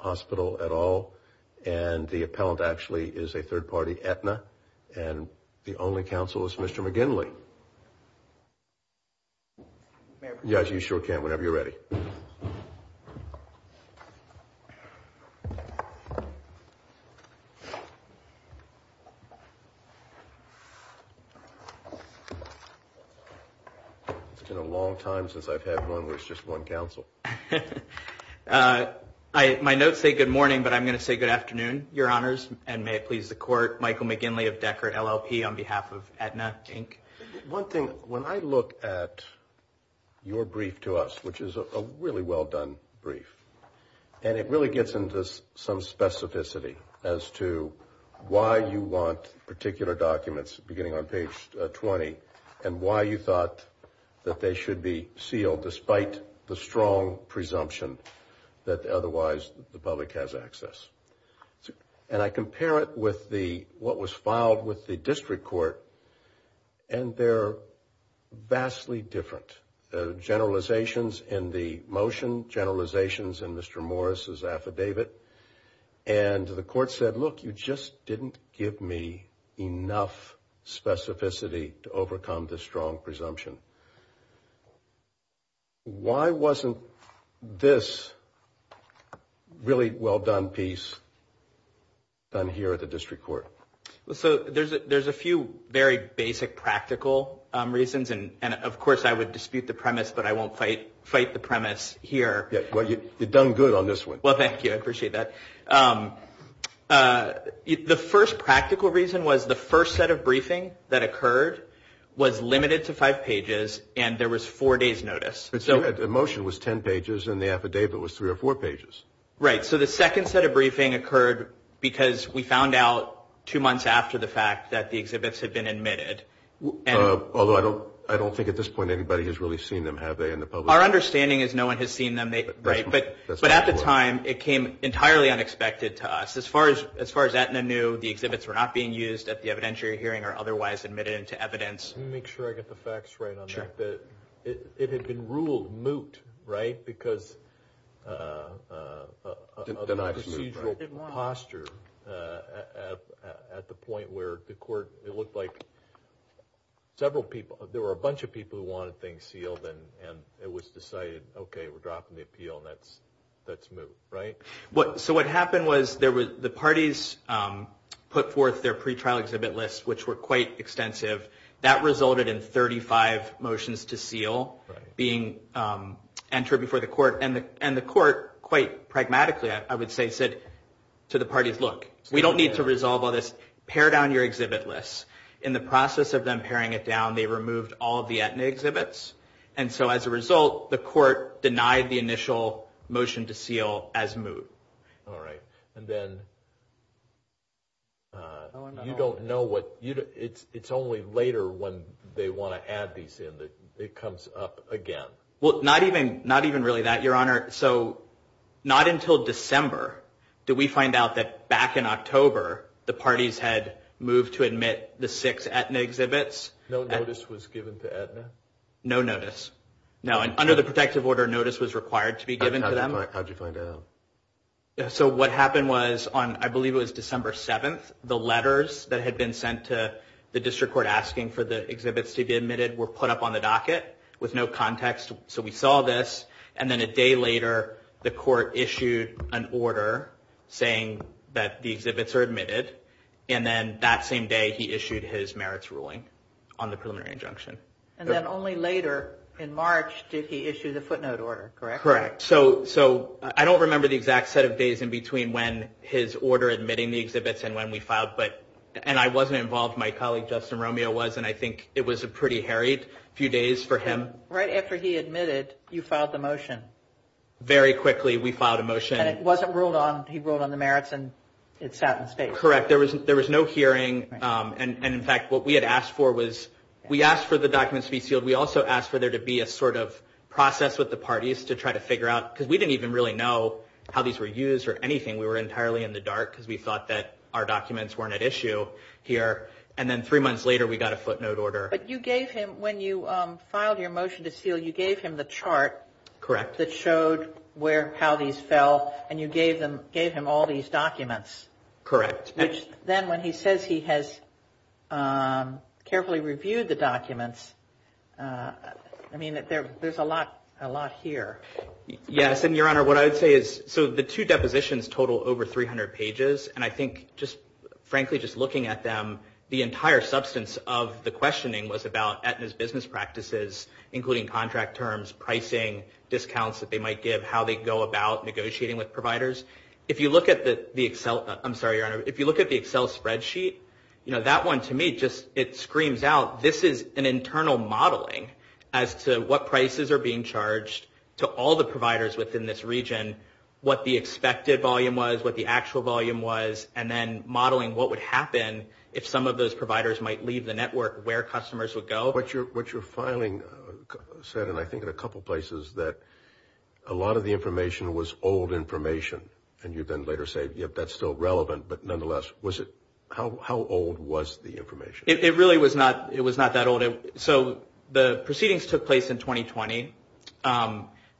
Hospital et al. And the appellant actually is a third party Aetna. And the only counsel is Mr. McGinley. Yes, you sure can, whenever you're ready. It's been a long time since I've had one where it's just one counsel. My notes say good morning, but I'm going to say good afternoon, your honors. And may it please the court, Michael McGinley of Deckard LLP on behalf of Aetna, Inc. One thing, when I look at your brief to us, which is a really well done brief, and it really gets into some specificity as to why you want particular documents beginning on page 20 and why you thought that they should be sealed despite the strong presumption that otherwise the public has access. And I compare it with what was filed with the district court, and they're vastly different. Generalizations in the motion, generalizations in Mr. Morris's affidavit. And the court said, look, you just didn't give me enough specificity to overcome this strong presumption. Why wasn't this really well done piece done here at the district court? Well, so there's a few very basic practical reasons. And of course, I would dispute the premise, but I won't fight the premise here. Well, you've done good on this one. Well, thank you. I appreciate that. The first practical reason was the first set of briefing that occurred was limited to five pages, and there was four days notice. The motion was 10 pages, and the affidavit was three or four pages. Right. So the second set of briefing occurred because we found out two months after the fact that the exhibits had been admitted. Although I don't think at this point anybody has really seen them, have they, in the public? Our understanding is no one has seen them. But at the time, it came entirely unexpected to us. As far as Aetna knew, the exhibits were not being used at the evidentiary hearing or otherwise admitted into evidence. Let me make sure I get the facts right on that. It had been ruled moot, right, because of the procedural posture at the point where the court, it looked like several people, there were a bunch of people who wanted things sealed, and it was decided, okay, we're dropping the appeal, and that's moot, right? So what happened was the parties put forth their pretrial exhibit lists, which were quite extensive. That resulted in 35 motions to seal being entered before the court. And the court quite pragmatically, I would say, said to the parties, look, we don't need to resolve all this. Pair down your exhibit lists. In the process of them pairing it down, they removed all of the Aetna exhibits. And so as a result, the court denied the initial motion to seal as moot. All right. And then you don't know what, it's only later when they want to add these in that it comes up again. Well, not even really that, Your Honor. So not until December did we find out that back in October, the parties had moved to admit the six Aetna exhibits. No notice was given to Aetna? No notice. No. Under the protective order, notice was required to be given to them. How did you find out? So what happened was on, I believe it was December 7th, the letters that had been sent to the district court asking for the exhibits to be admitted were put up on the docket with no context. So we saw this. And then a day later, the court issued an order saying that the exhibits are admitted. And then that same day, he issued his merits ruling on the preliminary injunction. And then only later, in March, did he issue the footnote order, correct? Correct. So I don't remember the exact set of days in between when his order admitting the exhibits and when we filed. And I wasn't involved. My colleague, Justin Romeo, was. And I think it was a pretty harried few days for him. Right after he admitted, you filed the motion. Very quickly, we filed a motion. And it wasn't ruled on, he ruled on the merits and it sat in the state. Correct. There was no hearing. And in fact, what we had asked for was, we asked for the documents to be sealed. We also asked for there to be a sort of process with the parties to try to figure out, because we didn't even really know how these were used or anything. We were entirely in the dark because we thought that our documents weren't at issue here. And then three months later, we got a footnote order. But you gave him, when you filed your motion to seal, you gave him the chart. Correct. That showed how these fell. And you gave him all these documents. Correct. Which then, when he says he has carefully reviewed the documents, I mean, there's a lot here. Yes. And, Your Honor, what I would say is, so the two depositions total over 300 pages. And I think just, frankly, just looking at them, the entire substance of the questioning was about Aetna's business practices, including contract terms, pricing, discounts that they might give, how they go about negotiating with providers. If you look at the Excel, I'm sorry, Your Honor, if you look at the Excel spreadsheet, you know, that one, to me, just, it screams out. This is an internal modeling as to what prices are being charged to all the providers within this region, what the expected volume was, what the actual volume was, and then modeling what would happen if some of those providers might leave the network, where customers would go. What your filing said, and I think in a couple places, that a lot of the information was old information. And you then later say, yep, that's still relevant, but nonetheless, was it, how old was the information? It really was not, it was not that old. So the proceedings took place in 2020.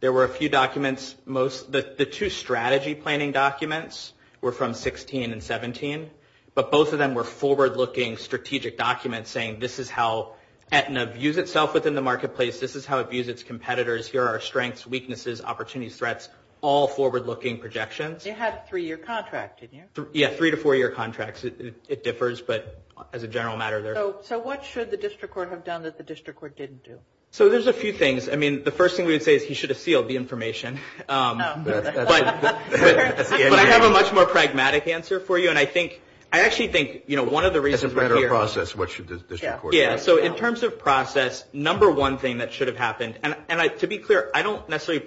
There were a few documents, most, the two strategy planning documents were from 16 and 17. But both of them were forward-looking strategic documents saying this is how Aetna views itself within the marketplace. This is how it views its competitors. Here are our strengths, weaknesses, opportunities, threats, all forward-looking projections. You had a three-year contract, didn't you? Yeah, three to four-year contracts. It differs, but as a general matter, they're. So what should the district court have done that the district court didn't do? So there's a few things. I mean, the first thing we would say is he should have sealed the information. But I have a much more pragmatic answer for you. And I think, I actually think, you know, one of the reasons. As a matter of process, what should the district court do? Yeah, so in terms of process, number one thing that should have happened, and to be clear, I don't necessarily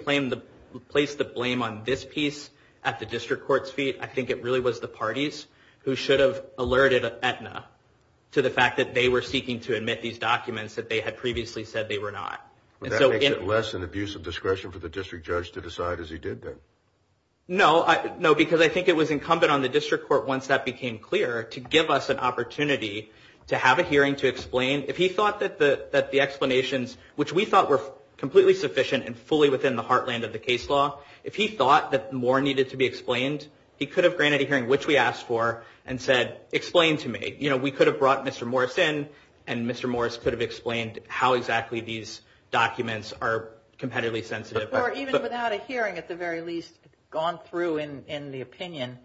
place the blame on this piece at the district court's feet. I think it really was the parties who should have alerted Aetna to the fact that they were seeking to admit these documents that they had previously said they were not. But that makes it less an abuse of discretion for the district judge to decide as he did then. No, because I think it was incumbent on the district court, once that became clear, to give us an opportunity to have a hearing to explain. If he thought that the explanations, which we thought were completely sufficient and fully within the heartland of the case law, if he thought that more needed to be explained, he could have granted a hearing, which we asked for, and said, explain to me. You know, we could have brought Mr. Morris in, and Mr. Morris could have explained how exactly these documents are competitively sensitive. Or even without a hearing, at the very least, gone through in the opinion,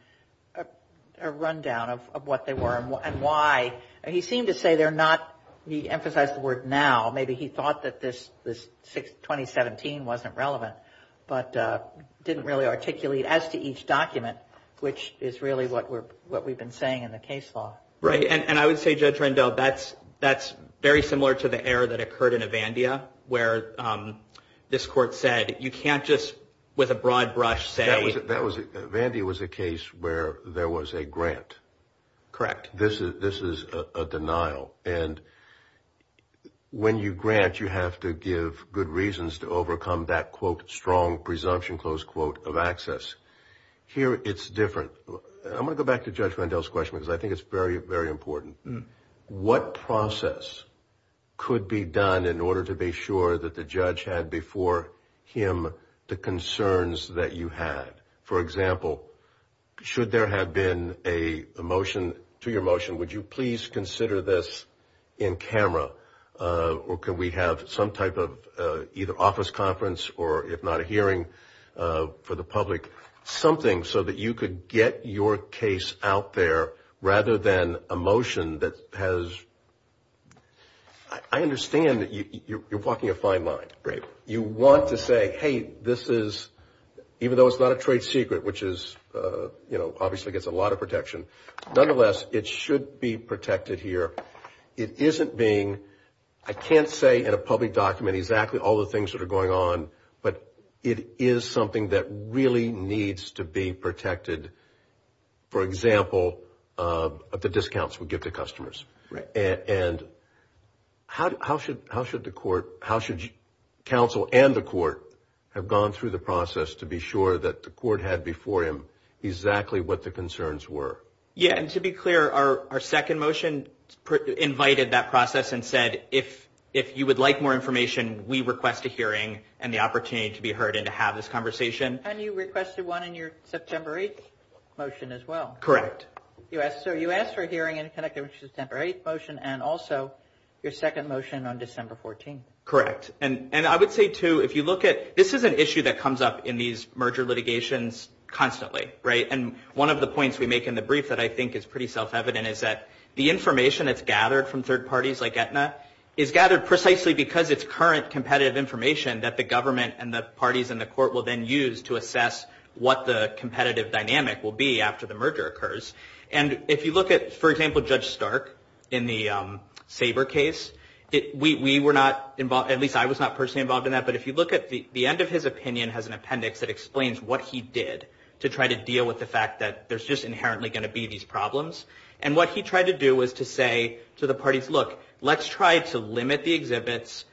a rundown of what they were and why. He seemed to say they're not, he emphasized the word now. Maybe he thought that this 2017 wasn't relevant, but didn't really articulate as to each document, which is really what we've been saying in the case law. Right, and I would say, Judge Randell, that's very similar to the error that occurred in Avandia, where this court said you can't just, with a broad brush, say. That was, Avandia was a case where there was a grant. Correct. This is a denial. And when you grant, you have to give good reasons to overcome that, quote, strong presumption, close quote, of access. Here it's different. I'm going to go back to Judge Randell's question, because I think it's very, very important. What process could be done in order to be sure that the judge had before him the concerns that you had? For example, should there have been a motion to your motion, would you please consider this in camera, or could we have some type of either office conference or, if not a hearing for the public, something so that you could get your case out there rather than a motion that has. I understand that you're walking a fine line. Right. You want to say, hey, this is, even though it's not a trade secret, which is, you know, obviously gets a lot of protection, nonetheless, it should be protected here. It isn't being, I can't say in a public document exactly all the things that are going on, but it is something that really needs to be protected. For example, the discounts we give to customers. Right. And how should the court, how should counsel and the court have gone through the process to be sure that the court had before him exactly what the concerns were? Yeah, and to be clear, our second motion invited that process and said if you would like more information, we request a hearing and the opportunity to be heard and to have this conversation. And you requested one in your September 8th motion as well. Correct. So you asked for a hearing in connection with the September 8th motion and also your second motion on December 14th. Correct. And I would say, too, if you look at, this is an issue that comes up in these merger litigations constantly, right? And one of the points we make in the brief that I think is pretty self-evident is that the information that's gathered from third parties like Aetna is gathered precisely because it's current competitive information that the government and the parties in the court will then use to assess what the competitive dynamic will be after the merger occurs. And if you look at, for example, Judge Stark in the Sabre case, we were not involved, at least I was not personally involved in that, but if you look at the end of his opinion has an appendix that explains what he did to try to deal with the fact that there's just inherently going to be these problems. And what he tried to do was to say to the parties, look, let's try to limit the exhibits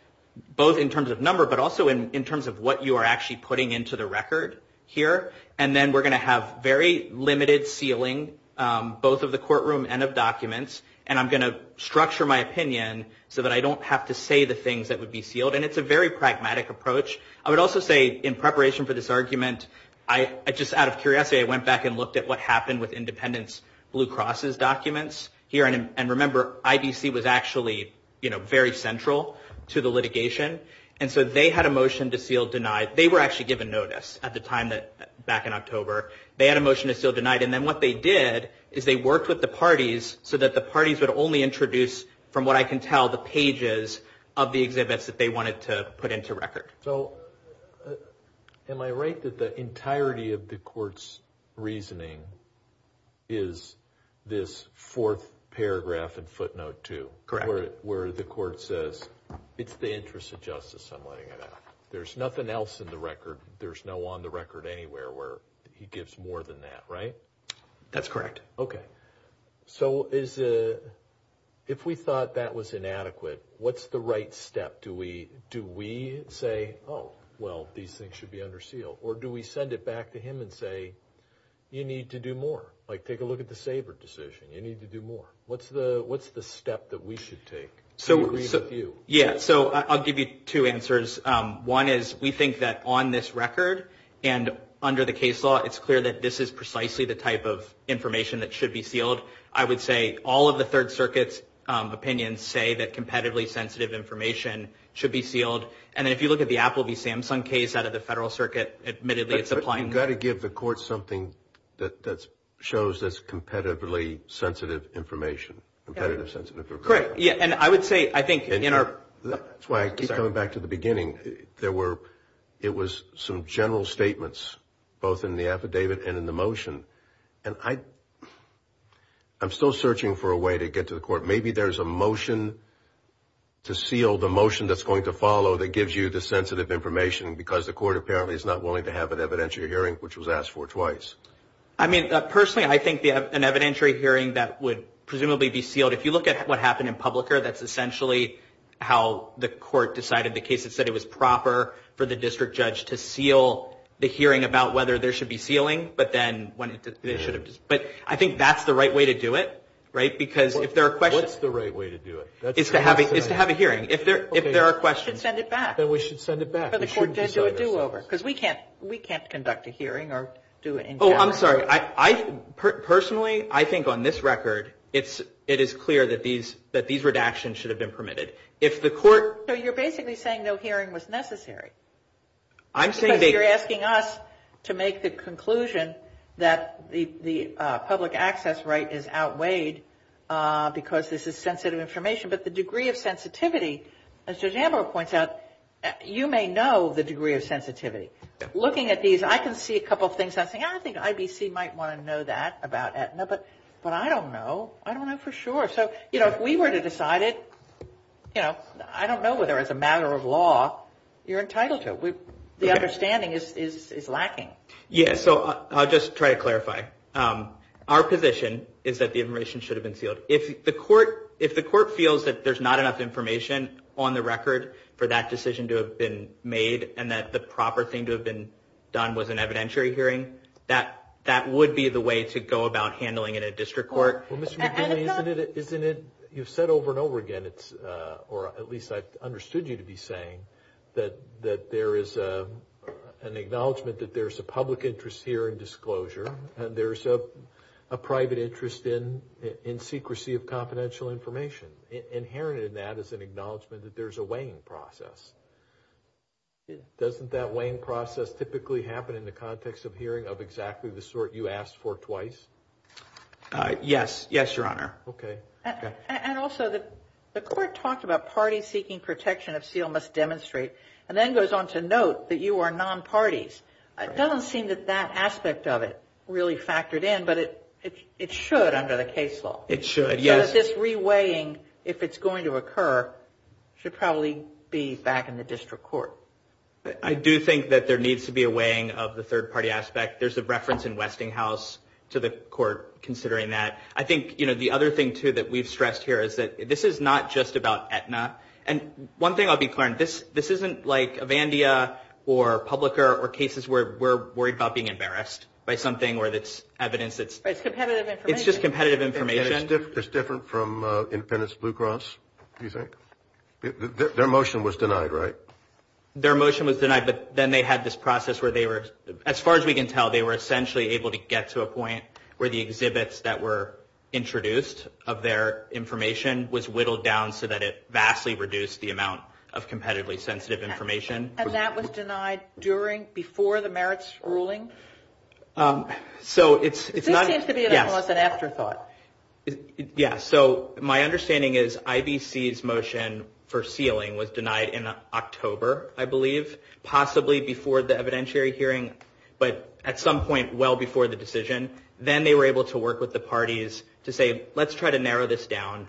both in terms of number but also in terms of what you are actually putting into the record here. And then we're going to have very limited sealing both of the courtroom and of documents. And I'm going to structure my opinion so that I don't have to say the things that would be sealed. And it's a very pragmatic approach. I would also say in preparation for this argument, I just out of curiosity, I would say I went back and looked at what happened with Independence Blue Cross's documents here. And remember, IDC was actually, you know, very central to the litigation. And so they had a motion to seal denied. They were actually given notice at the time back in October. They had a motion to seal denied. And then what they did is they worked with the parties so that the parties would only introduce, from what I can tell, the pages of the exhibits that they wanted to put into record. So am I right that the entirety of the court's reasoning is this fourth paragraph in footnote 2? Correct. Where the court says it's the interest of justice I'm letting it out. There's nothing else in the record. There's no on the record anywhere where he gives more than that, right? That's correct. Okay. So if we thought that was inadequate, what's the right step? Do we say, oh, well, these things should be under seal? Or do we send it back to him and say, you need to do more? Like take a look at the Sabre decision. You need to do more. What's the step that we should take? Yeah, so I'll give you two answers. One is we think that on this record and under the case law, I would say all of the Third Circuit's opinions say that competitively sensitive information should be sealed. And if you look at the Apple v. Samsung case out of the Federal Circuit, admittedly it's applying. You've got to give the court something that shows that it's competitively sensitive information. Competitive sensitive information. Correct. Yeah, and I would say I think in our – That's why I keep coming back to the beginning. There were – it was some general statements both in the affidavit and in the motion. And I'm still searching for a way to get to the court. Maybe there's a motion to seal the motion that's going to follow that gives you the sensitive information because the court apparently is not willing to have an evidentiary hearing, which was asked for twice. I mean, personally, I think an evidentiary hearing, that would presumably be sealed. If you look at what happened in public here, that's essentially how the court decided the case. It said it was proper for the district judge to seal the hearing about whether there should be sealing. But I think that's the right way to do it, right? Because if there are questions – What's the right way to do it? It's to have a hearing. If there are questions – Then we should send it back. Then we should send it back. But the court didn't do a do-over because we can't conduct a hearing or do it in general. Oh, I'm sorry. Personally, I think on this record, it is clear that these redactions should have been permitted. If the court – So you're basically saying no hearing was necessary. I'm saying – Because you're asking us to make the conclusion that the public access right is outweighed because this is sensitive information. But the degree of sensitivity, as Judge Ambrose points out, you may know the degree of sensitivity. Looking at these, I can see a couple of things. I don't think IBC might want to know that about Aetna, but I don't know. I don't know for sure. If we were to decide it, I don't know whether as a matter of law you're entitled to it. The understanding is lacking. Yes, so I'll just try to clarify. Our position is that the information should have been sealed. If the court feels that there's not enough information on the record for that decision to have been made and that the proper thing to have been done was an evidentiary hearing, that would be the way to go about handling it at district court. Well, Mr. McNeely, isn't it – you've said over and over again, or at least I've understood you to be saying, that there is an acknowledgment that there's a public interest here in disclosure and there's a private interest in secrecy of confidential information. Inherent in that is an acknowledgment that there's a weighing process. Doesn't that weighing process typically happen in the context of hearing of exactly the sort you asked for twice? Yes. Yes, Your Honor. Okay. And also, the court talked about parties seeking protection of seal must demonstrate and then goes on to note that you are non-parties. It doesn't seem that that aspect of it really factored in, but it should under the case law. It should, yes. So this re-weighing, if it's going to occur, should probably be back in the district court. I do think that there needs to be a weighing of the third-party aspect. There's a reference in Westinghouse to the court considering that. I think, you know, the other thing, too, that we've stressed here is that this is not just about Aetna. And one thing I'll be clear on, this isn't like Avandia or Publica or cases where we're worried about being embarrassed by something or it's evidence that's – But it's competitive information. It's just competitive information. It's different from Independence Blue Cross, do you think? Their motion was denied, right? Their motion was denied, but then they had this process where they were, as far as we can tell, they were essentially able to get to a point where the exhibits that were introduced of their information was whittled down so that it vastly reduced the amount of competitively sensitive information. And that was denied during, before the merits ruling? So it's not – This seems to be almost an afterthought. Yeah, so my understanding is IBC's motion for sealing was denied in October, I believe, possibly before the evidentiary hearing, but at some point well before the decision. Then they were able to work with the parties to say, let's try to narrow this down.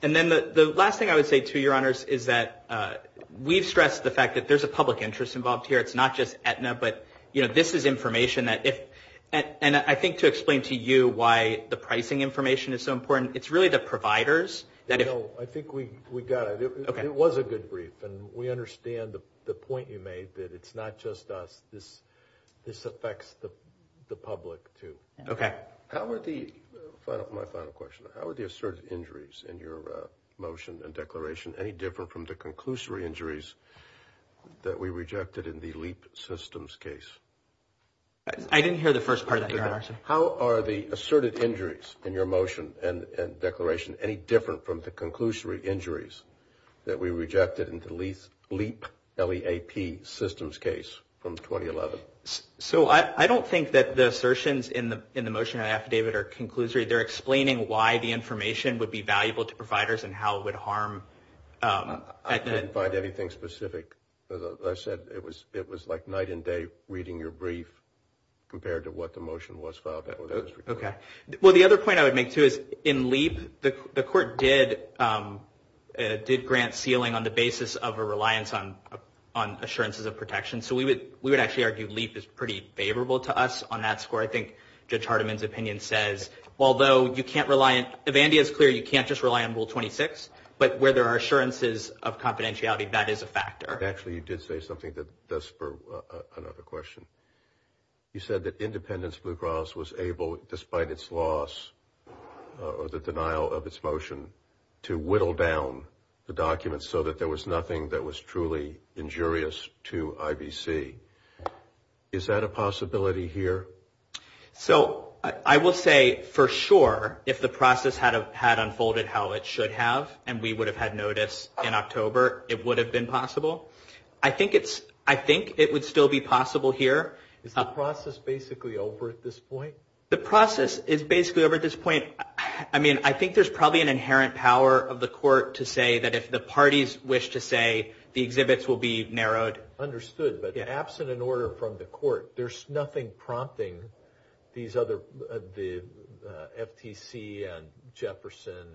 And then the last thing I would say to you, Your Honors, is that we've stressed the fact that there's a public interest involved here. It's not just Aetna, but, you know, this is information that if – I think to explain to you why the pricing information is so important, it's really the providers that – No, I think we got it. It was a good brief, and we understand the point you made that it's not just us. This affects the public too. Okay. How are the – my final question. How are the asserted injuries in your motion and declaration any different from the conclusory injuries that we rejected in the LEAP systems case? I didn't hear the first part of that, Your Honor. How are the asserted injuries in your motion and declaration any different from the conclusory injuries that we rejected in the LEAP systems case from 2011? So I don't think that the assertions in the motion and affidavit are conclusory. They're explaining why the information would be valuable to providers and how it would harm – I didn't find anything specific. As I said, it was like night and day reading your brief compared to what the motion was filed. Okay. Well, the other point I would make too is in LEAP, the court did grant ceiling on the basis of a reliance on assurances of protection, so we would actually argue LEAP is pretty favorable to us on that score. I think Judge Hardiman's opinion says although you can't rely on – if Andy is clear, you can't just rely on Rule 26, but where there are assurances of confidentiality, that is a factor. Actually, you did say something that does spur another question. You said that Independence Blue Cross was able, despite its loss or the denial of its motion, to whittle down the documents so that there was nothing that was truly injurious to IBC. Is that a possibility here? So I will say for sure if the process had unfolded how it should have and we would have had notice in October, it would have been possible. I think it would still be possible here. Is the process basically over at this point? The process is basically over at this point. I mean, I think there's probably an inherent power of the court to say that if the parties wish to say, the exhibits will be narrowed. Understood. But absent an order from the court, there's nothing prompting these other – the FTC and Jefferson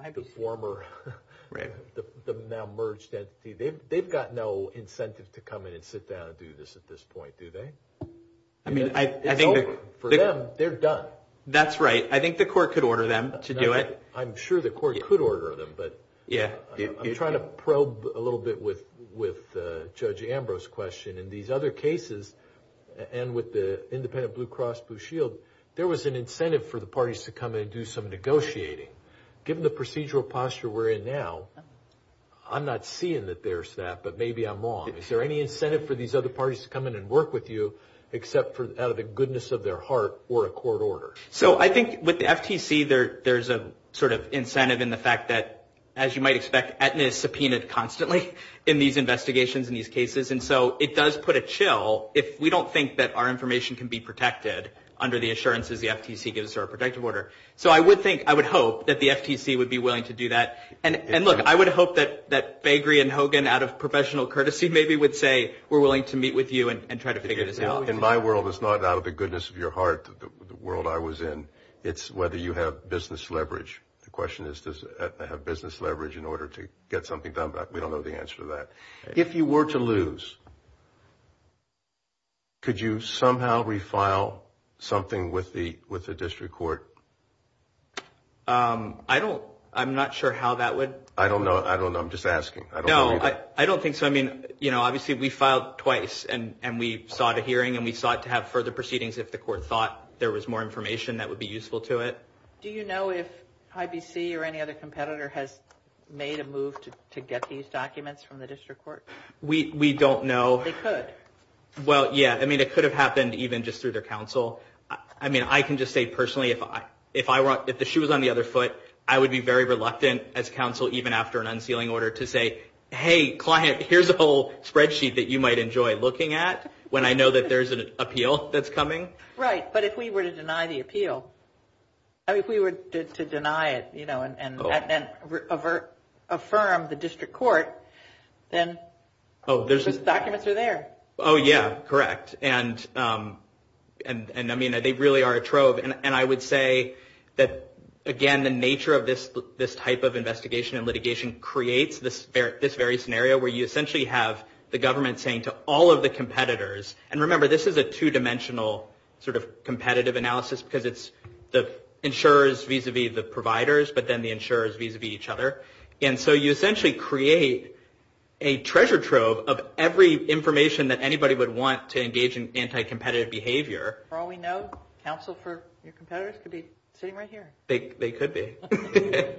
and the former – the now merged entity. They've got no incentive to come in and sit down and do this at this point, do they? I mean, I think – It's over. For them, they're done. That's right. I think the court could order them to do it. I'm sure the court could order them. I'm trying to probe a little bit with Judge Ambrose's question. In these other cases and with the independent Blue Cross Blue Shield, there was an incentive for the parties to come in and do some negotiating. Given the procedural posture we're in now, I'm not seeing that there's that, but maybe I'm wrong. Is there any incentive for these other parties to come in and work with you except out of the goodness of their heart or a court order? So I think with the FTC, there's a sort of incentive in the fact that, as you might expect, Aetna is subpoenaed constantly in these investigations and these cases, and so it does put a chill if we don't think that our information can be protected under the assurances the FTC gives to our protective order. So I would think – I would hope that the FTC would be willing to do that. And, look, I would hope that Bagri and Hogan, out of professional courtesy, maybe would say we're willing to meet with you and try to figure this out. In my world, it's not out of the goodness of your heart, the world I was in. It's whether you have business leverage. The question is does Aetna have business leverage in order to get something done, but we don't know the answer to that. If you were to lose, could you somehow refile something with the district court? I don't – I'm not sure how that would – I don't know. I don't know. I'm just asking. No, I don't think so. I mean, you know, obviously we filed twice, and we sought a hearing, and we sought to have further proceedings if the court thought there was more information that would be useful to it. Do you know if IBC or any other competitor has made a move to get these documents from the district court? We don't know. They could. Well, yeah. I mean, it could have happened even just through their counsel. I mean, I can just say personally if I – if the shoe was on the other foot, I would be very reluctant as counsel, even after an unsealing order, to say, hey, client, here's a whole spreadsheet that you might enjoy looking at when I know that there's an appeal that's coming. Right. But if we were to deny the appeal, if we were to deny it, you know, and then affirm the district court, then those documents are there. Oh, yeah. Correct. And, I mean, they really are a trove. And I would say that, again, the nature of this type of investigation and litigation creates this very scenario where you essentially have the government saying to all of the competitors – and remember, this is a two-dimensional sort of competitive analysis because it's the insurers vis-a-vis the providers, but then the insurers vis-a-vis each other. And so you essentially create a treasure trove of every information that anybody would want to engage in anti-competitive behavior. For all we know, counsel for your competitors could be sitting right here. They could be. Thank you.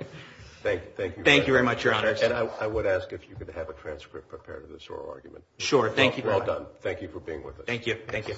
Thank you. Thank you very much, Your Honor. And I would ask if you could have a transcript prepared of this oral argument. Sure. Thank you. Well done. Thank you for being with us. Thank you. Thank you.